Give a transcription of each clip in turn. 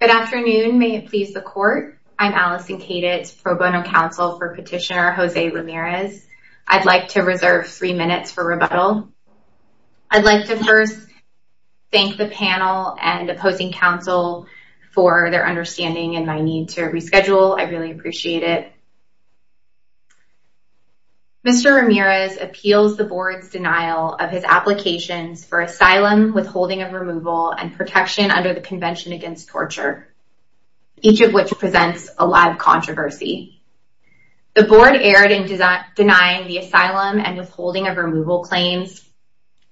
Good afternoon. May it please the court. I'm Allison Kaditz, pro bono counsel for Petitioner Jose Ramirez. I'd like to reserve three minutes for rebuttal. I'd like to first thank the panel and opposing counsel for their understanding and my need to reschedule. I really appreciate it. Mr. Ramirez appeals the board's denial of his applications for asylum, withholding of removal, and protection under the Convention Against Torture, each of which presents a live controversy. The board erred in denying the asylum and withholding of removal claims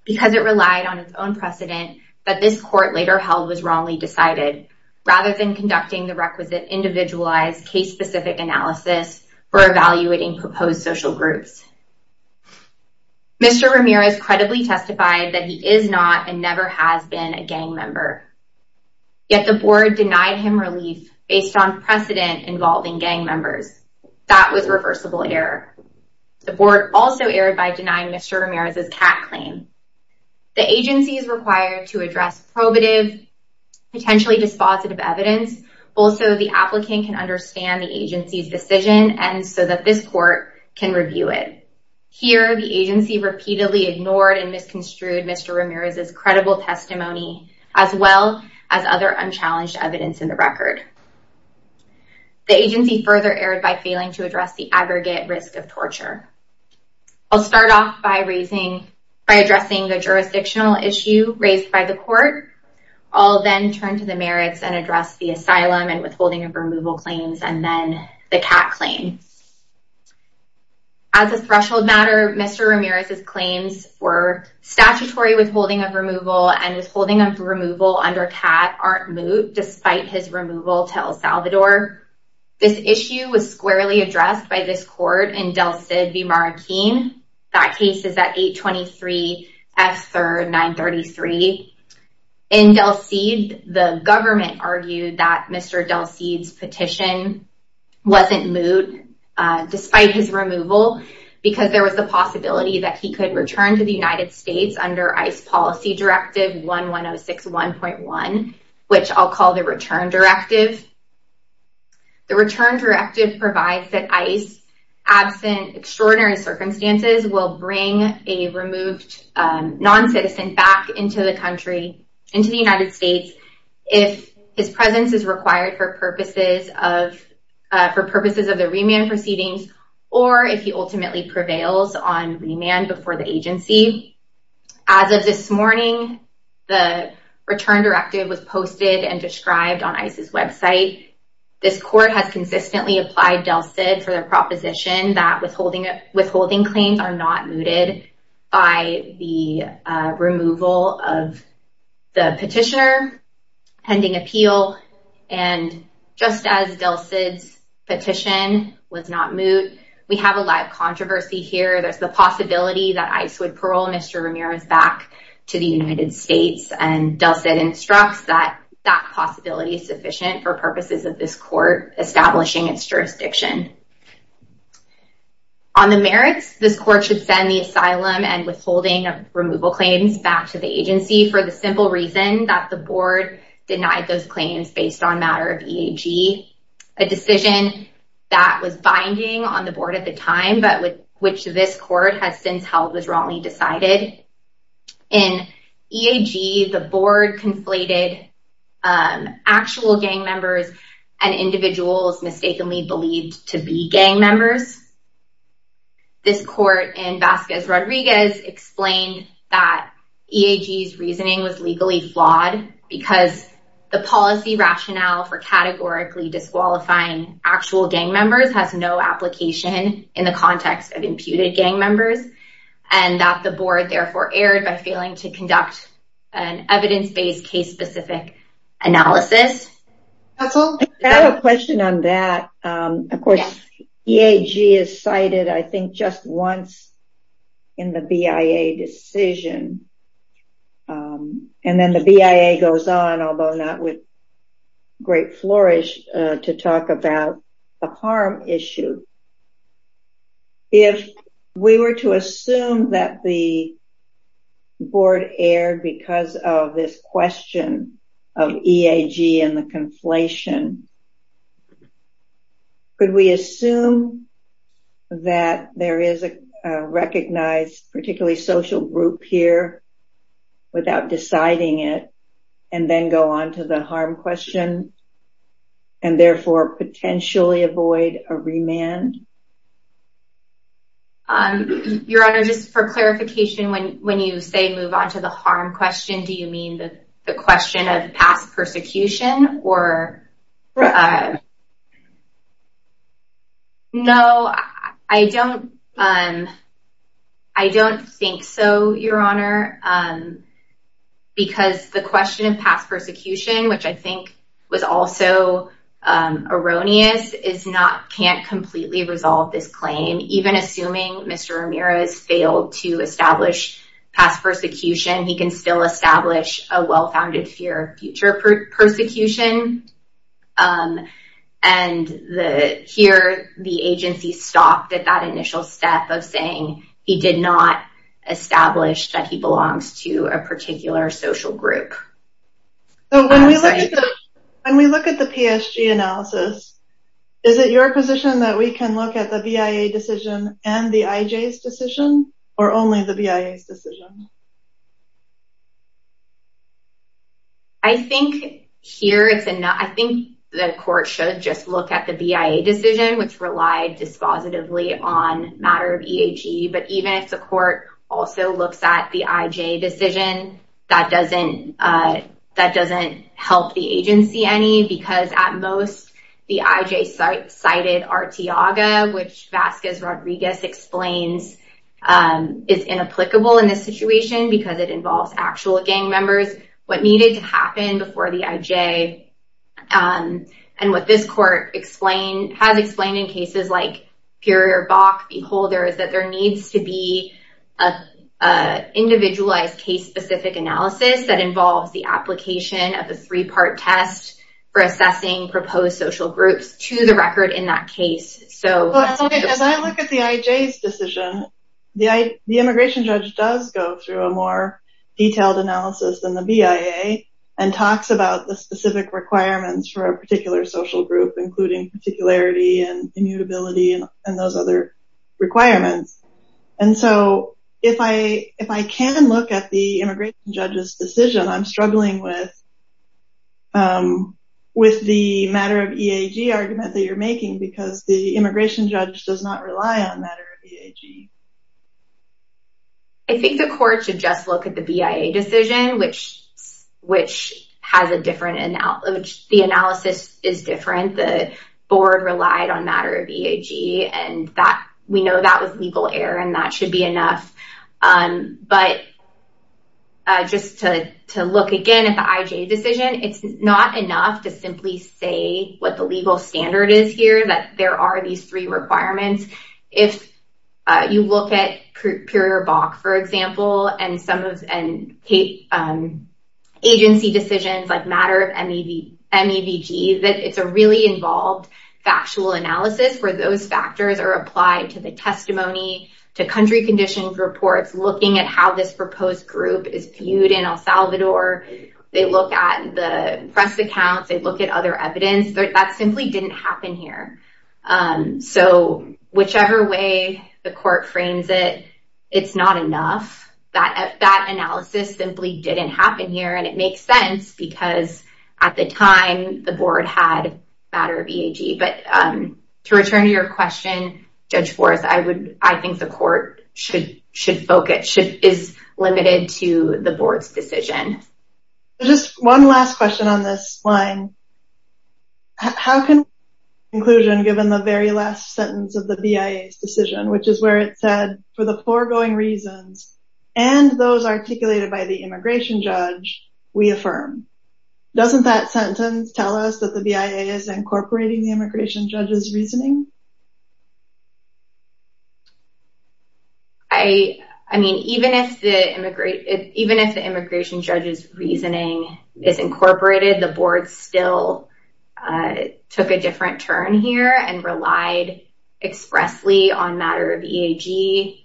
because it relied on its own precedent that this court later held was wrongly decided, rather than conducting the requisite individualized case-specific analysis or evaluating proposed social groups. Mr. Ramirez credibly testified that he is not and never has been a gang member, yet the board denied him relief based on precedent involving gang members. That was reversible error. The board also erred by denying Mr. Ramirez's cat claim. The agency is required to address probative, potentially dispositive evidence, both so the applicant can understand the agency's decision and so that this repeatedly ignored and misconstrued Mr. Ramirez's credible testimony, as well as other unchallenged evidence in the record. The agency further erred by failing to address the aggregate risk of torture. I'll start off by addressing the jurisdictional issue raised by the court. I'll then turn to the merits and address the asylum and withholding of removal claims, and then the cat claim. As a threshold matter, Mr. Ramirez's claims were statutory withholding of removal and his holding of removal under cat aren't moot, despite his removal to El Salvador. This issue was squarely addressed by this court in Del Cid v. Marrakeen. That case is at 823 F 3rd 933. In Del Cid, the despite his removal, because there was the possibility that he could return to the United States under ICE Policy Directive 11061.1, which I'll call the return directive. The return directive provides that ICE, absent extraordinary circumstances, will bring a removed non-citizen back into the country, into the United States, if his presence is required for purposes of, for purposes of the remand proceedings, or if he ultimately prevails on remand before the agency. As of this morning, the return directive was posted and described on ICE's website. This court has consistently applied Del Cid for their proposition that withholding, withholding claims are not mooted by the removal of the petitioner pending appeal. And just as Del Cid's petition was not moot, we have a live controversy here. There's the possibility that ICE would parole Mr. Ramirez back to the United States and Del Cid instructs that that possibility is sufficient for purposes of this court establishing its jurisdiction. On the merits, this court should send the asylum and withholding of removal claims back to the agency for the simple reason that the board denied those claims based on matter of EAG, a decision that was binding on the board at the time, but which this court has since held was wrongly decided. In EAG, the board conflated actual gang members and individuals mistakenly believed to be gang members. This court in Vasquez Rodriguez explained that EAG's reasoning was legally flawed because the policy rationale for categorically disqualifying actual gang members has no application in the context of imputed gang members, and that the board therefore erred by failing to conduct an evidence-based, case-specific analysis. That's all. I have a question on that. Of course, EAG is cited, I think, just once in the BIA decision. And then the BIA goes on, although not with great flourish, to talk about a harm issue. If we were to assume that the board erred because of this question of EAG and the conflation, could we assume that there is a recognized, particularly social group here, without deciding it, and then go on to the harm question, and therefore potentially avoid a remand? Your Honor, just for clarification, when you say move on to the harm question, do you mean the question of past persecution? Or... No, I don't think so, Your Honor. Because the question of past persecution, which I think was also erroneous, can't completely resolve this claim. Even assuming Mr. Ramirez failed to move on to the harm question. And here, the agency stopped at that initial step of saying he did not establish that he belongs to a particular social group. So, when we look at the PSG analysis, is it your position that we can look at the BIA decision and the IJ's decision, or only the BIA's decision? I think here, I think the court should just look at the BIA decision, which relied dispositively on matter of EAG. But even if the court also looks at the IJ decision, that doesn't help the agency any, because at most, the IJ cited Arteaga, which Vasquez Rodriguez explains is inapplicable in this situation, because it involves actual gang members. What needed to happen before the IJ, and what this court has explained in cases like Puri or Bach v. Holder, is that there needs to be an individualized case-specific analysis that involves the application of a three-part test for assessing proposed social groups to the record in that case. As I look at the IJ's decision, the immigration judge does go through a more detailed analysis than the BIA, and talks about the specific requirements for a particular social group, including particularity and immutability and those other requirements. And so, if I can look at the immigration judge's decision, I'm struggling with with the matter of EAG argument that you're making, because the immigration judge does not rely on matter of EAG. I think the court should just look at the BIA decision, which has a different analysis. The analysis is different. The board relied on matter of EAG, and we know that was legal error, and that should be enough. But just to look again at the IJ decision, it's not enough to simply say what the legal standard is here, that there are these three requirements. If you look at Puri or Bach, for example, and agency decisions like matter of MEVG, it's a really involved factual analysis where those factors are applied to the testimony, to country conditions reports, looking at how this proposed group is viewed in El Salvador. They look at the press accounts. They look at other evidence. That simply didn't happen here. So, whichever way the court frames it, it's not enough. That analysis simply didn't happen here, and it makes sense because at the time, the board had matter of EAG. But to return to your question, Judge Forrest, I think the court should focus, is limited to the board's decision. Just one last question on this line. How can conclusion given the very last sentence of the BIA's decision, which is where it said, for the foregoing reasons and those articulated by the immigration judge, we affirm? Doesn't that sentence tell us that the BIA is incorporating the immigration judge's reasoning? I mean, even if the immigration judge's reasoning is incorporated, the board still took a different turn here and relied expressly on matter of EAG.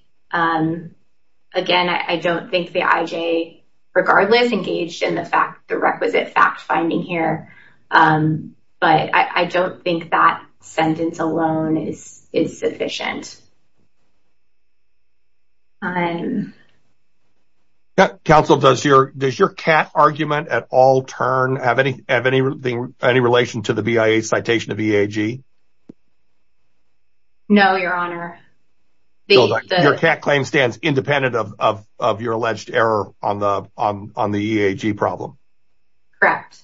Again, I don't think the IJ, regardless, engaged in the requisite fact-finding here. But I don't think that sentence alone is sufficient. Counsel, does your cat argument at all turn, have any relation to the BIA's citation of EAG? No, Your Honor. Your cat claim stands independent of your alleged error on the EAG problem. Correct.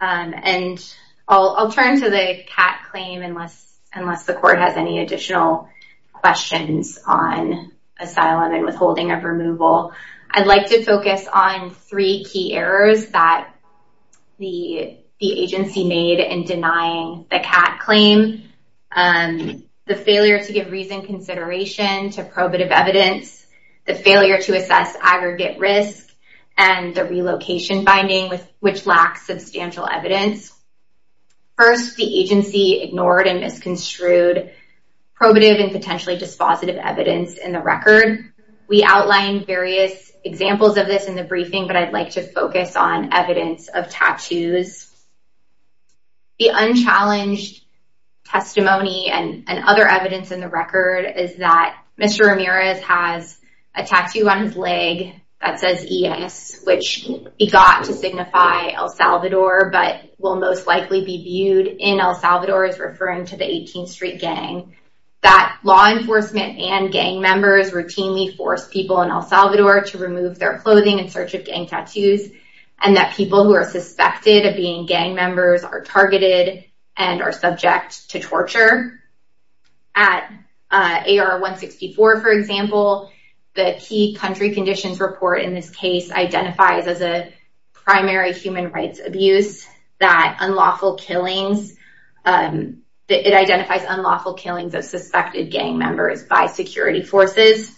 And I'll turn to the cat claim unless the court has any additional questions on asylum and withholding of removal. I'd like to focus on three key errors that the agency made in denying the cat claim. The failure to give reason consideration to probative evidence, the failure to assess aggregate risk, and the relocation finding, which lacks substantial evidence. First, the agency ignored and misconstrued probative and potentially dispositive evidence in the record. We outlined various examples of this in the briefing, but I'd like to focus on evidence of tattoos. The unchallenged testimony and other evidence in the record is that Mr. Ramirez has a tattoo on his leg that says ES, which begot to signify El Salvador, but will most likely be viewed in El Salvador as referring to the 18th Street Gang. That law enforcement and gang members routinely force people in El Salvador to remove their clothing in search of gang tattoos, and that people who are suspected of being gang members are targeted and are subject to torture. At AR-164, for example, the key country conditions report in this case identifies as a primary human rights abuse that unlawful killings, it identifies unlawful killings of suspected gang members by security forces.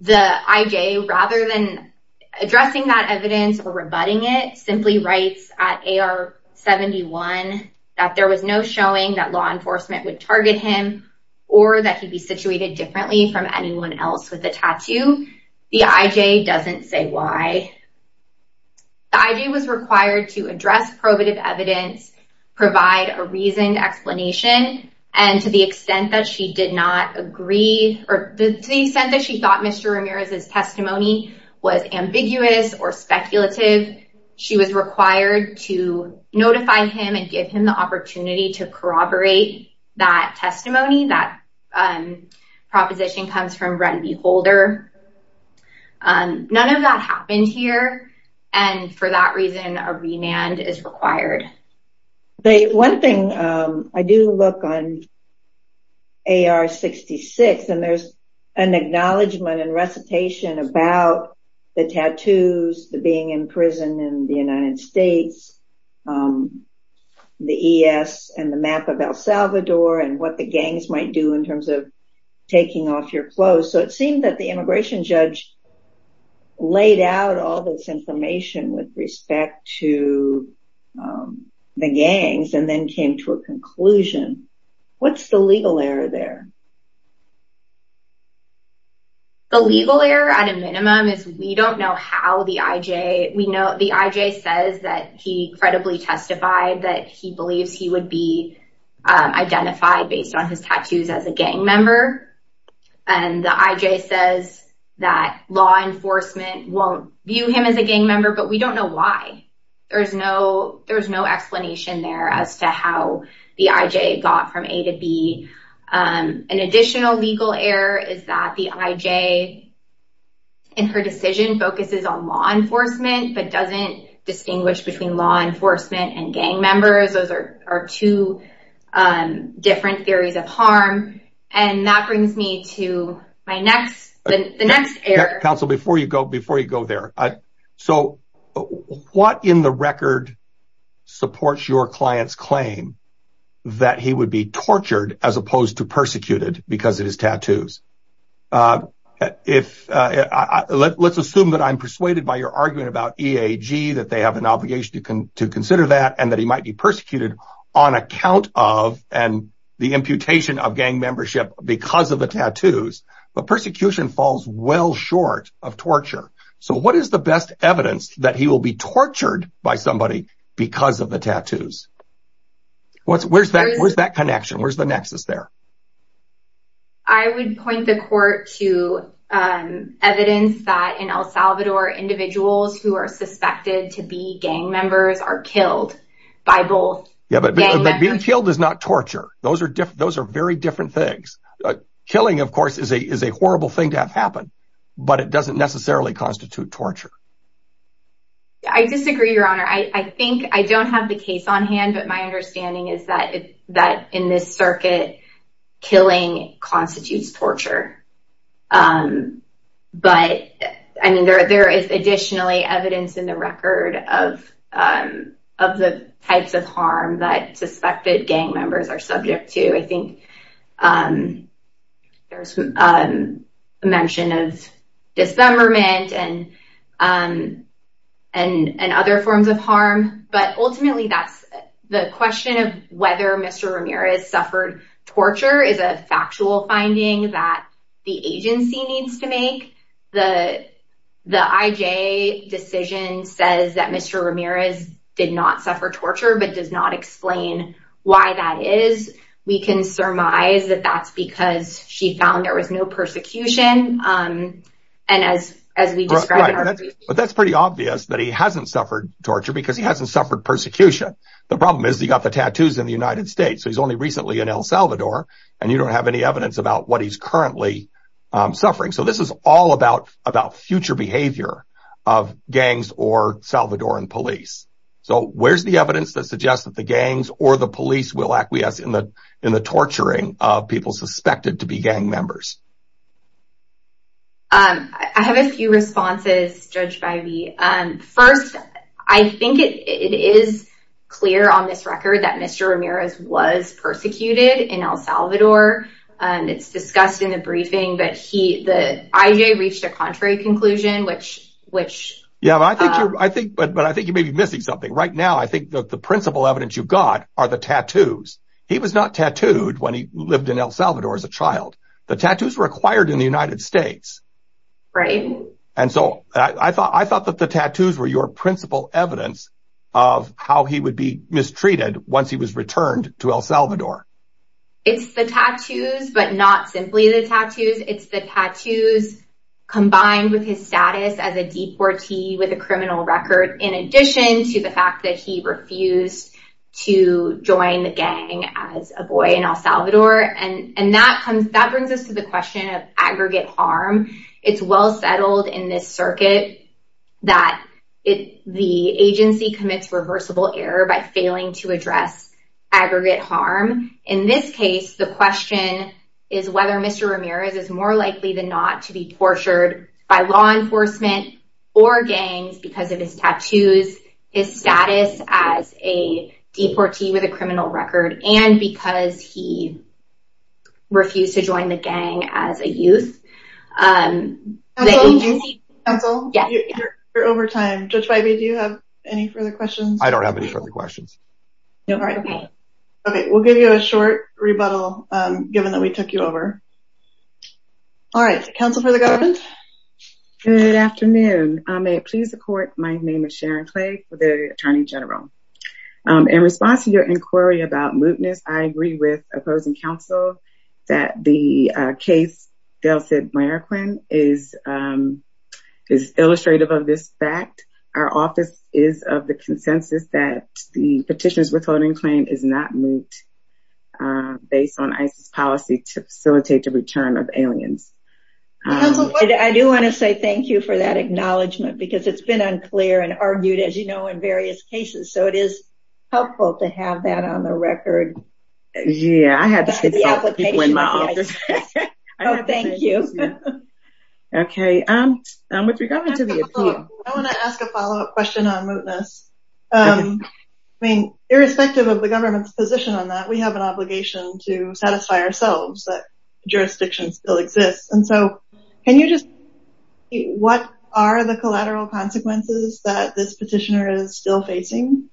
The IJ, rather than addressing that evidence or rebutting it, simply writes at AR-71 that there was no showing that law enforcement would target him or that he'd be situated differently from anyone else with the tattoo. The IJ doesn't say why. The IJ was required to address probative evidence, provide a reasoned explanation, and to the extent that she did not agree or to the testimony was ambiguous or speculative, she was required to notify him and give him the opportunity to corroborate that testimony. That proposition comes from Red Bee Holder. None of that happened here, and for that reason, a remand is required. One thing, I do look on AR-66 and there's an acknowledgment and recitation about the tattoos, the being in prison in the United States, the ES and the map of El Salvador and what the gangs might do in terms of taking off your clothes, so it seemed that the immigration judge laid out all this information with respect to the gangs and then came to a conclusion. What's the legal error there? The legal error, at a minimum, is we don't know how the IJ, we know the IJ says that he credibly testified that he believes he would be identified based on his tattoos as a gang member, and the IJ says that law enforcement won't view him as a gang member, but we don't know why. There's no explanation there as to how the IJ got from A to B. An additional legal error is that the IJ, in her decision, focuses on law enforcement but doesn't distinguish between law enforcement and gang members. Those are two different theories of harm, and that brings me to the next error. Counsel, before you go there, what in the record supports your client's claim that he would be tortured as opposed to persecuted because of his tattoos? Let's assume that I'm persuaded by your argument about EAG, that they have an obligation to consider that, and that he might be persecuted on account of and the imputation of gang membership because of the tattoos, but persecution falls well short of torture. So what is the best evidence that he will be tortured by somebody because of the tattoos? Where's that connection? Where's the nexus there? I would point the court to evidence that in El Salvador, individuals who are suspected to be gang members are killed by both. Yeah, but being killed is not torture. Those are very different things. Killing, of course, is a horrible thing to have happen, but it doesn't necessarily constitute torture. I disagree, Your Honor. I think I don't have the case on hand, but my understanding is that in this circuit, killing constitutes torture. But there is additionally evidence in the record of the types of harm that suspected gang members are subject to. I think there's a mention of dismemberment and other forms of harm, but ultimately, the question of whether Mr. Ramirez suffered torture is a factual finding that the agency needs to make. The IJ decision says that Mr. Ramirez did not suffer torture, but does not explain why that is. We can surmise that that's because she found there was no persecution. But that's pretty obvious that he hasn't suffered torture because he hasn't suffered persecution. The problem is he got the tattoos in the United States. He's only recently in El Salvador, and you don't have any evidence about what he's currently suffering. So this is about future behavior of gangs or Salvadoran police. So where's the evidence that suggests that the gangs or the police will acquiesce in the torturing of people suspected to be gang members? I have a few responses, Judge Bivey. First, I think it is clear on this record that Mr. Ramirez was persecuted in El Salvador. It's discussed in the briefing, but the IJ reached a contrary conclusion, which... Yeah, but I think you may be missing something. Right now, I think the principal evidence you've got are the tattoos. He was not tattooed when he lived in El Salvador as a child. The tattoos were acquired in the United States. Right. And so I thought that the tattoos were your principal evidence of how he would be mistreated once he was returned to El Salvador. It's the tattoos, but not simply the tattoos. It's the tattoos combined with his status as a deportee with a criminal record, in addition to the fact that he refused to join the gang as a boy in El Salvador. And that brings us to the question of aggregate harm. It's well settled in this circuit that the agency commits reversible error by failing to address aggregate harm. In this case, the question is whether Mr. Ramirez is more likely than not to be tortured by law enforcement or gangs because of his tattoos, his status as a deportee with a criminal record. Counsel, you're over time. Judge Bybee, do you have any further questions? I don't have any further questions. All right. Okay. We'll give you a short rebuttal, given that we took you over. All right. Counsel for the government. Good afternoon. May it please the court, my name is Sharon Clay for the Attorney General. In response to your inquiry about mootness, I agree with opposing counsel that the case, Del Cid Marroquin, is illustrative of this fact. Our office is of the consensus that the petitions withholding claim is not moot based on ISIS policy to facilitate the return of aliens. I do want to say thank you for that acknowledgement, because it's been unclear and argued, as you know, in various cases. So it is helpful to have that on the record. Yeah, I had to consult people in my office. Oh, thank you. Okay. With regard to the appeal. I want to ask a follow-up question on mootness. I mean, irrespective of the government's position on that, we have an obligation to satisfy ourselves that jurisdiction still exists. And so can you just, what are the collateral consequences that this petitioner is still facing?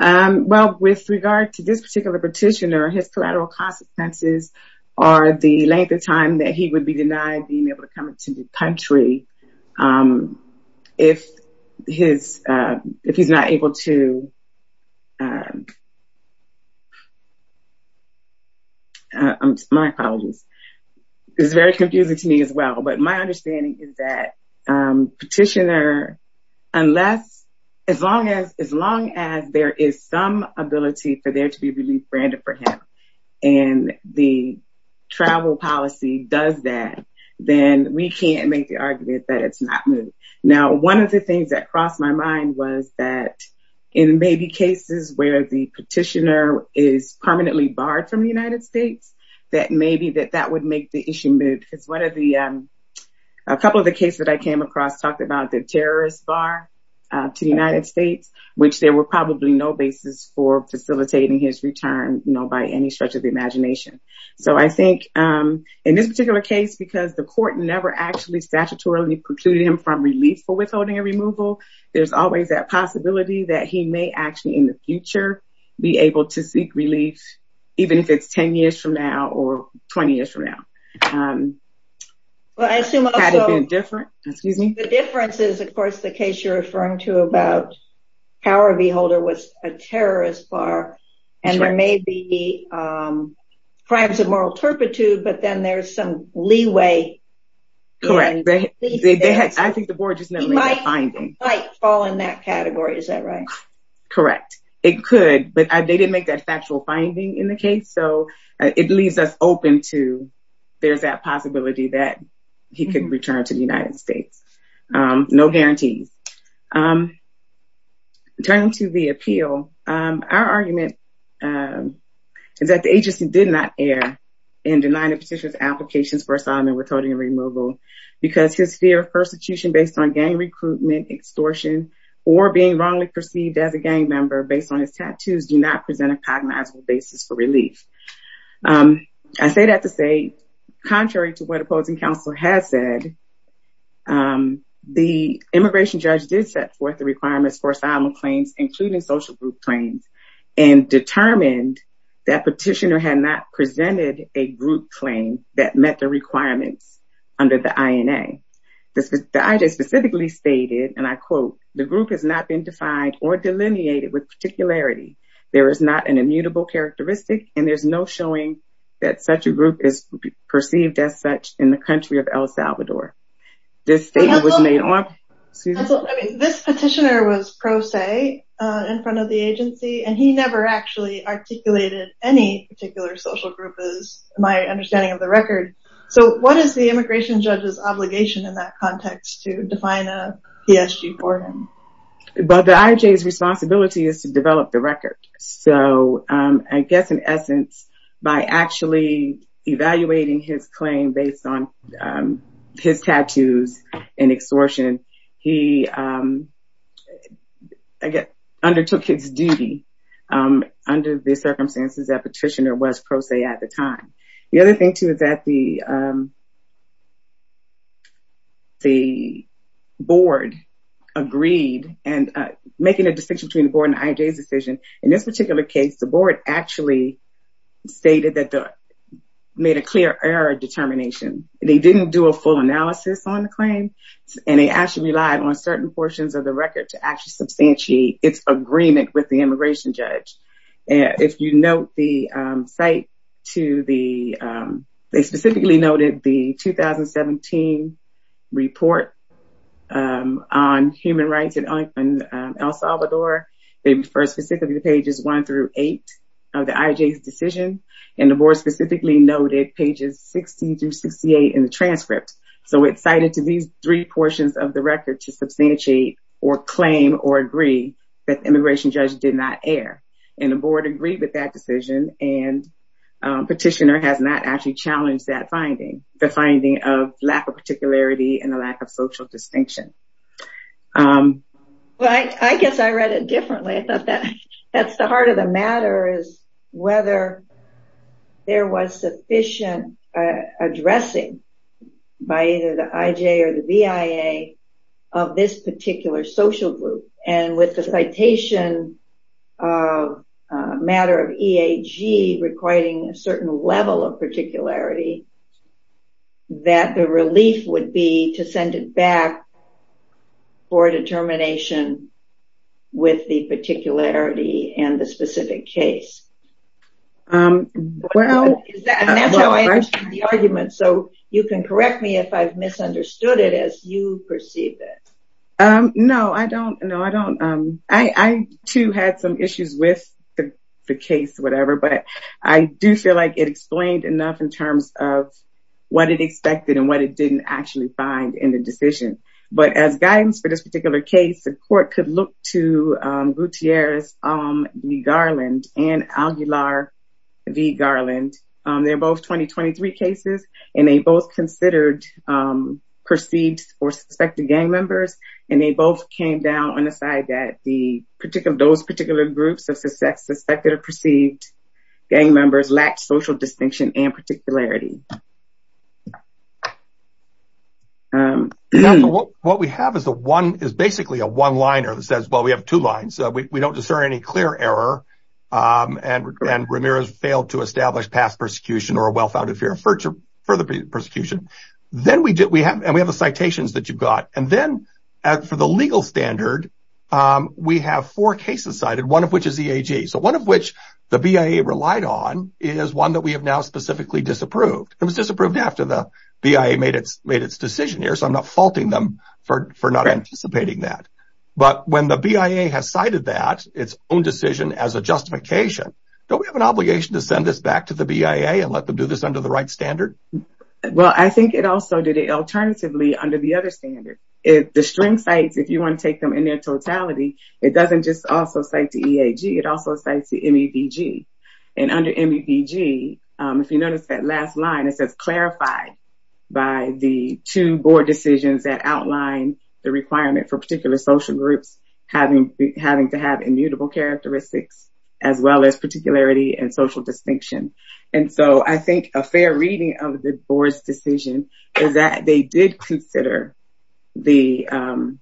Well, with regard to this particular petitioner, his collateral consequences are the length of time that he would be denied being able to come into the country. If he's not able to... My apologies. It's very confusing to me as well. But my understanding is that petitioner, unless, as long as there is some ability for there to be relief granted for him, and the travel policy does that, then we can't make the argument that it's not moot. Now, one of the things that crossed my mind was that in maybe cases where the petitioner is permanently barred from the United States, that maybe that that would make the issue moot. One of the, a couple of the cases that I came across talked about the terrorist bar to the United States, which there were probably no basis for facilitating his return by any stretch of the imagination. So I think in this particular case, because the court never actually statutorily precluded him from relief for withholding a removal, there's always that possibility that he may actually in the future be able to seek relief, even if it's 10 years from now or 20 Well, I assume... Had it been different, excuse me? The difference is, of course, the case you're referring to about power of the holder was a terrorist bar, and there may be crimes of moral turpitude, but then there's some leeway. Correct. I think the board just never made that finding. He might fall in that category. Is that right? Correct. It could, but they didn't make that factual finding in the case. So it leaves us there's that possibility that he could return to the United States. No guarantees. Turning to the appeal, our argument is that the agency did not err in denying the petitioner's applications for asylum and withholding a removal because his fear of persecution based on gang recruitment, extortion, or being wrongly perceived as a gang member based on his tattoos do not Contrary to what opposing counsel has said, the immigration judge did set forth the requirements for asylum claims, including social group claims, and determined that petitioner had not presented a group claim that met the requirements under the INA. The INA specifically stated, and I quote, the group has not been defined or delineated with particularity. There is not an immutable characteristic and there's no showing that such a group is perceived as such in the country of El Salvador. This statement was made on This petitioner was pro se in front of the agency, and he never actually articulated any particular social group is my understanding of the record. So what is the immigration judge's obligation in that context to define a PSG for him? But the IJ's responsibility is to develop the record. So I guess in essence, by actually evaluating his claim based on his tattoos and extortion, he undertook his duty under the circumstances that petitioner was pro se at the time. The other thing, too, is that the board agreed, and making a distinction between the board and IJ's decision, in this particular case, the board actually stated that they made a clear error determination. They didn't do a full analysis on the claim, and they actually relied on certain portions of the record to actually substantiate its agreement with the immigration judge. If you note the site, they specifically noted the 2017 report on human rights in El Salvador. They refer specifically to pages one through eight of the IJ's decision, and the board specifically noted pages 60 through 68 in the transcript. So it's cited to these three portions of the record to substantiate or claim or agree that the immigration judge did not err. And the board agreed with that decision, and petitioner has not actually challenged that finding, the finding of lack of particularity and the lack of social distinction. Well, I guess I read it differently. I thought that's the heart of the matter, is whether there was sufficient addressing by either the IJ or the BIA of this particular social group. And with the citation of a matter of EAG requiring a certain level of particularity, that the relief would be to send it back for determination with the particularity and the specific case. So you can correct me if I've misunderstood it as you perceive it. No, I don't. No, I don't. I too had some issues with the case, whatever, but I do feel like it explained enough in terms of what it expected and what it didn't actually find in the decision. But as guidance for this particular case, the court could look to Gutierrez v. Garland and Aguilar v. Garland. They're both 2023 cases, and they both considered perceived or suspected gang members. And they both came down on the side that those particular groups of suspected or perceived gang members lacked social distinction and particularity. What we have is basically a one-liner that says, well, we have two lines. We don't discern any clear error, and Ramirez failed to establish past persecution or a well-founded fear of further persecution. And we have the citations that you've got. And then for the legal standard, we have four cases cited, one of which is EAG. So one of which the BIA relied on is one that we have now specifically disapproved. It was disapproved after the BIA made its decision here. So I'm not faulting them for not anticipating that. But when the BIA has cited that, its own decision as a justification, don't we have an obligation to send this back to the BIA and let them do this under the right standard? Well, I think it also did it alternatively under the other standard. If the string cites, if you want to take them in their totality, it doesn't just also cite the EAG. It also cites the MEVG. And under MEVG, if you notice that last line, it says clarified by the two board decisions that outline the requirement for particular social groups having to have immutable characteristics, as well as particularity and social distinction. And so I think a fair reading of the board's decision is that they did consider the...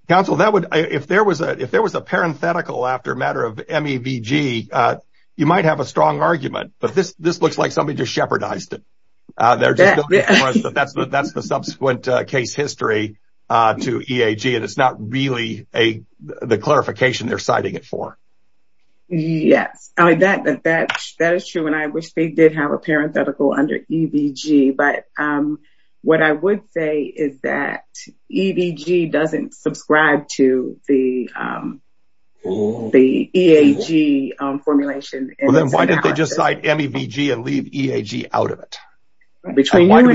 Counsel, if there was a parenthetical after a matter of MEVG, you might have a strong argument, but this looks like somebody just shepherdized it. But that's the subsequent case history to EAG. And it's not really the clarification they're citing it for. Yes. That is true. And I wish they did have a parenthetical under EVG. But what I would say is that EVG doesn't subscribe to the EAG formulation. Then why didn't they just cite MEVG and leave EAG out of it? We often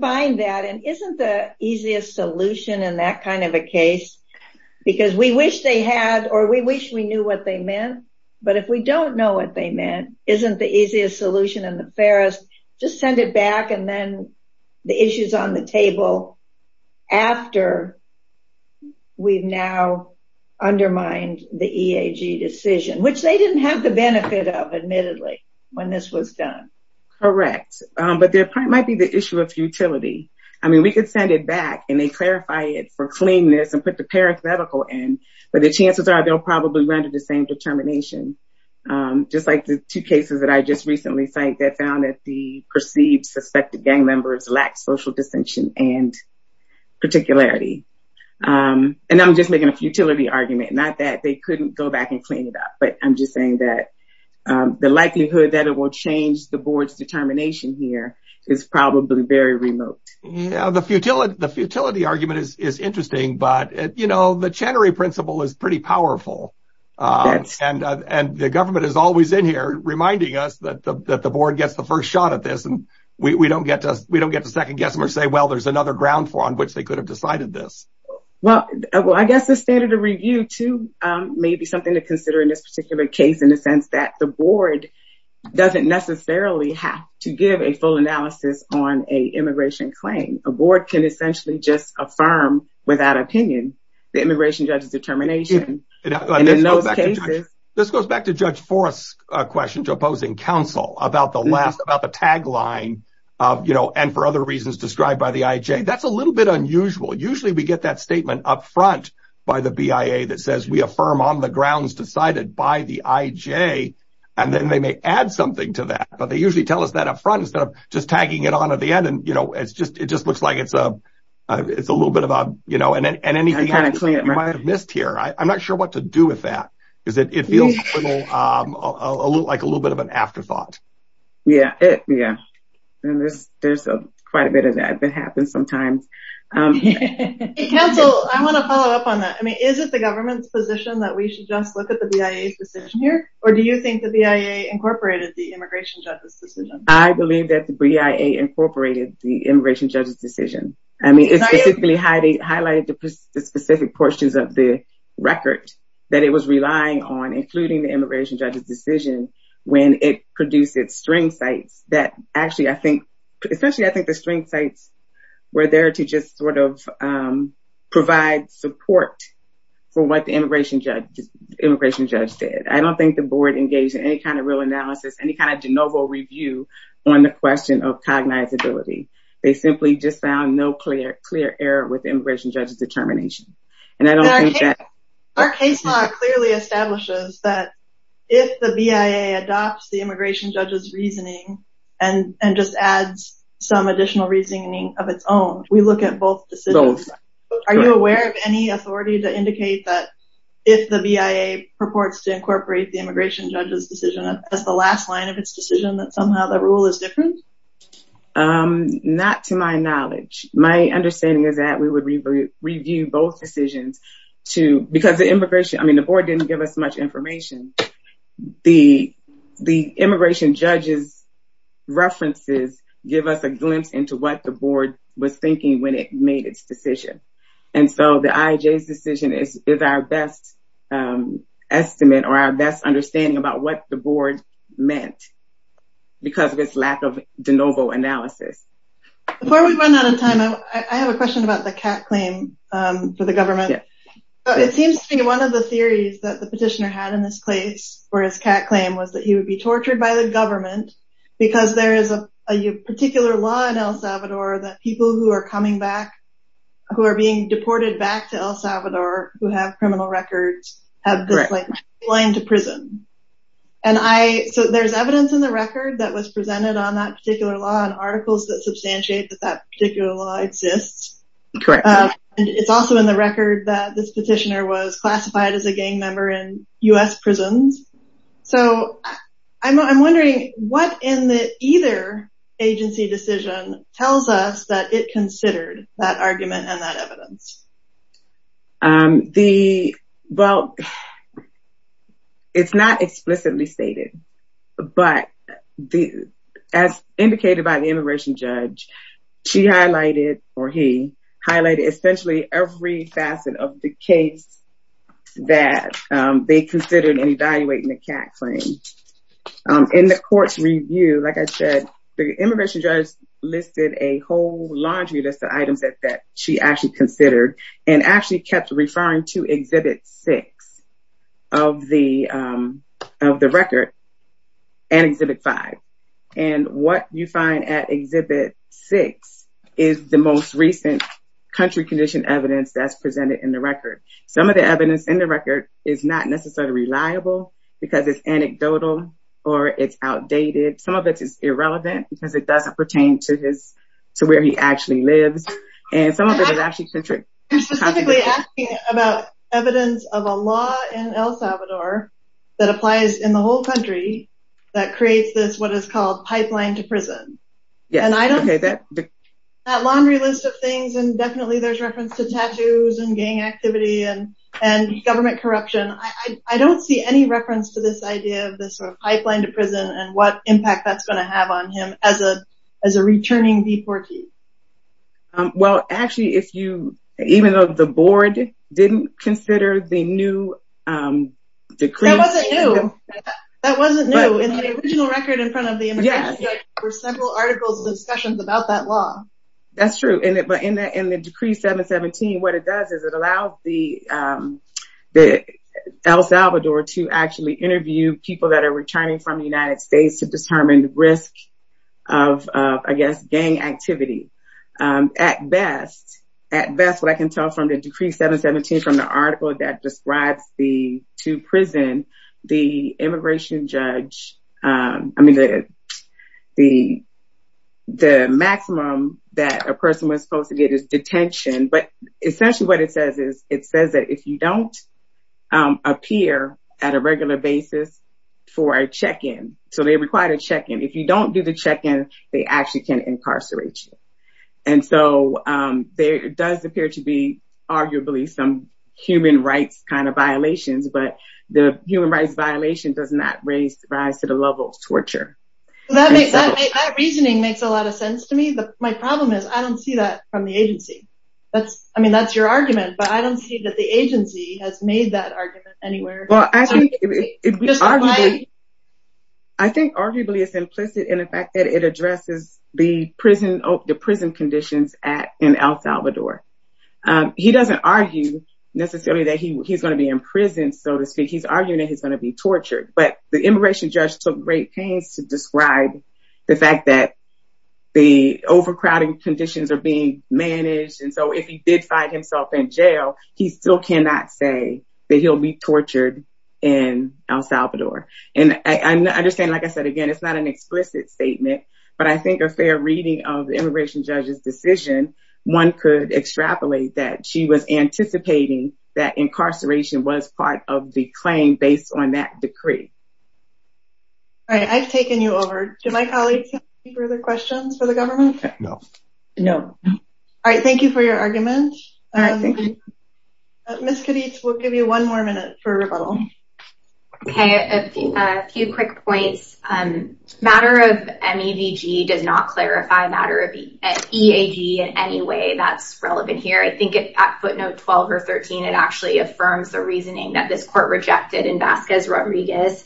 find that, and isn't the easiest solution in that kind of a case, because we wish they had, or we wish we knew what they meant. But if we don't know what they meant, isn't the easiest solution and the fairest, just send it back and then the issue's on the table after we've now undermined the EAG decision, which they didn't have the benefit of, admittedly, when this was done. Correct. But there might be the issue of futility. I mean, we could send it back and they clarify it for cleanness and put the parenthetical in, but the chances are they'll probably render the same determination. Just like the two cases that I just recently cited that found that the perceived suspected gang members lacked social distinction and particularity. And I'm just making a futility argument, not that they couldn't go back and clean it up, but I'm just saying that the likelihood that it will change the board's determination here is probably very remote. The futility argument is interesting, but the Chenery Principle is pretty powerful, and the government is always in here reminding us that the board gets the first shot at this and we don't get to second guess them or say, well, there's another ground floor on which they could have decided this. Well, I guess the standard of review, too, may be something to consider in this particular case in the sense that the board doesn't necessarily have to give a full analysis on a immigration claim. A board can essentially just affirm without opinion the immigration judge's determination. In those cases... This goes back to Judge Forrest's question to opposing counsel about the tagline, and for other reasons described by the IJ. That's a little bit unusual. Usually, we get that statement up front by the BIA that says, we affirm on the grounds decided by the IJ, and then they may add something to that. But they usually tell us that up front instead of just tagging it on at the end, and it just looks like it's a little bit of a... You might have missed here. I'm not sure what to do with that, because it feels like a little bit of an afterthought. Yeah. There's quite a bit of that that happens sometimes. Counsel, I want to follow up on that. Is it the government's position that we should just look at the BIA's decision here, or do you think the BIA incorporated the immigration judge's decision? I believe that the BIA incorporated the immigration judge's decision. It specifically highlighted the specific portions of the record that it was relying on, including the immigration judge's decision, when it produced its string sites that actually, especially I think the string sites were there to just provide support for what the immigration judge did. I don't think the board engaged in any kind of real analysis, any kind of de novo review on the question of cognizability. They simply just found no clear error with immigration judge's determination. And I don't think that... Our case law clearly establishes that if the BIA adopts the immigration judge's reasoning and just adds some additional reasoning of its own, we look at both decisions. Are you aware of any authority to indicate that if the BIA purports to incorporate the immigration judge's decision as the last line of its decision, that somehow the rule is different? Not to my knowledge. My understanding is that we would review both decisions because the board didn't give us much information. The immigration judge's references give us a glimpse into what the board was thinking when it made its decision. And so the IAJ's decision is our best estimate or our best understanding about what the board meant because of its lack of de novo analysis. Before we run out of time, I have a question about the Catt claim for the government. It seems to me one of the theories that the petitioner had in this case for his Catt claim was that he would be tortured by the government because there is a particular law in El Salvador that people who are coming back, who are being deported back to El Salvador, who have criminal records, have been sent to prison. So there's evidence in the record that was presented on that particular law and articles that substantiate that that particular law exists. And it's also in the record that this petitioner was classified as a gang member in U.S. prisons. So I'm wondering what in the either agency decision tells us that it considered that argument and that evidence? The, well, it's not explicitly stated, but as indicated by the immigration judge, she highlighted or he highlighted essentially every facet of the case that they considered in evaluating the Catt claim. In the court's review, like I said, the immigration judge listed a whole laundry list of items that she actually considered and actually kept referring to Exhibit 6 of the record and Exhibit 5. And what you find at Exhibit 6 is the most recent country condition evidence that's presented in the record. Some of the evidence in the record is not necessarily reliable because it's anecdotal or it's outdated. Some of it is to where he actually lives. And some of it is actually centric. You're specifically asking about evidence of a law in El Salvador that applies in the whole country that creates this, what is called pipeline to prison. That laundry list of things. And definitely there's reference to tattoos and gang activity and government corruption. I don't see any reference to this idea of this sort of pipeline to prison and what impact that's going to have on him as a returning deportee. Well, actually, even though the board didn't consider the new decree. That wasn't new. That wasn't new. In the original record in front of the immigration judge, there were several articles and discussions about that law. That's true. But in the Decree 717, what it does is it allows El Salvador to actually interview people that are returning from the United States to determine the risk of, I guess, gang activity. At best, what I can tell from the Decree 717, from the article that describes the two prison, the immigration judge, I mean, the maximum that a person was supposed to get is detention. But for a check-in, so they required a check-in. If you don't do the check-in, they actually can incarcerate you. And so there does appear to be arguably some human rights kind of violations, but the human rights violation does not raise rise to the level of torture. That reasoning makes a lot of sense to me. My problem is I don't see that from the agency. I mean, that's your argument, but I don't see that the agency has made that argument anywhere. Well, I think arguably it's implicit in the fact that it addresses the prison conditions in El Salvador. He doesn't argue necessarily that he's going to be in prison, so to speak. He's arguing that he's going to be tortured. But the immigration judge took great pains to describe the fact that the overcrowding conditions are being managed. And so if he did find himself in jail, he still cannot say that he'll be tortured in El Salvador. And I understand, like I said, again, it's not an explicit statement, but I think a fair reading of the immigration judge's decision, one could extrapolate that she was anticipating that incarceration was part of the claim based on that decree. All right. I've taken you over. Do my colleagues have any further questions for the government? No. No. All right. Thank you for your argument. Ms. Kadich, we'll give you one more minute for rebuttal. Okay. A few quick points. Matter of MEVG does not clarify matter of EAG in any way that's relevant here. I think at footnote 12 or 13, it actually affirms the reasoning that this court rejected in Vasquez Rodriguez.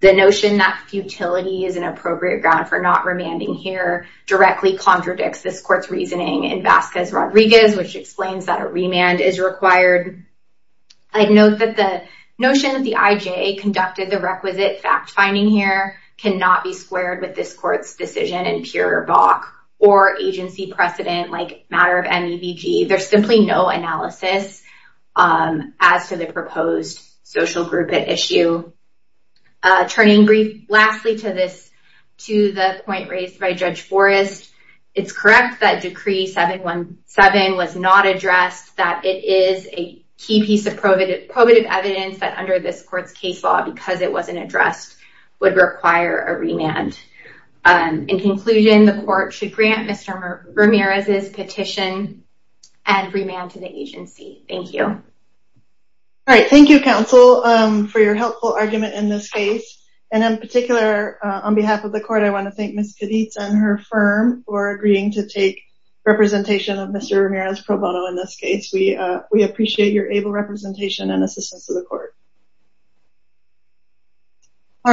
The notion that futility is an appropriate ground for not remanding here directly contradicts this court's reasoning in Vasquez Rodriguez, which explains that a remand is required. I'd note that the notion that the IJ conducted the requisite fact-finding here cannot be squared with this court's decision in pure BOC or agency precedent like matter of MEVG. There's simply no analysis as to the proposed social group at issue. Turning lastly to the point raised by Judge Forrest, it's correct that decree 717 was not addressed, that it is a key piece of probative evidence that under this court's case law, because it wasn't addressed, would require a remand. In conclusion, the court should grant Mr. Ramirez's petition and remand to the agency. Thank you. All right. Thank you, counsel, for your helpful argument in this case. And in particular, on behalf of the court, I want to thank Ms. Cadiz and her firm for agreeing to take representation of Mr. Ramirez's pro bono in this case. We appreciate your able representation and assistance to the court. All right.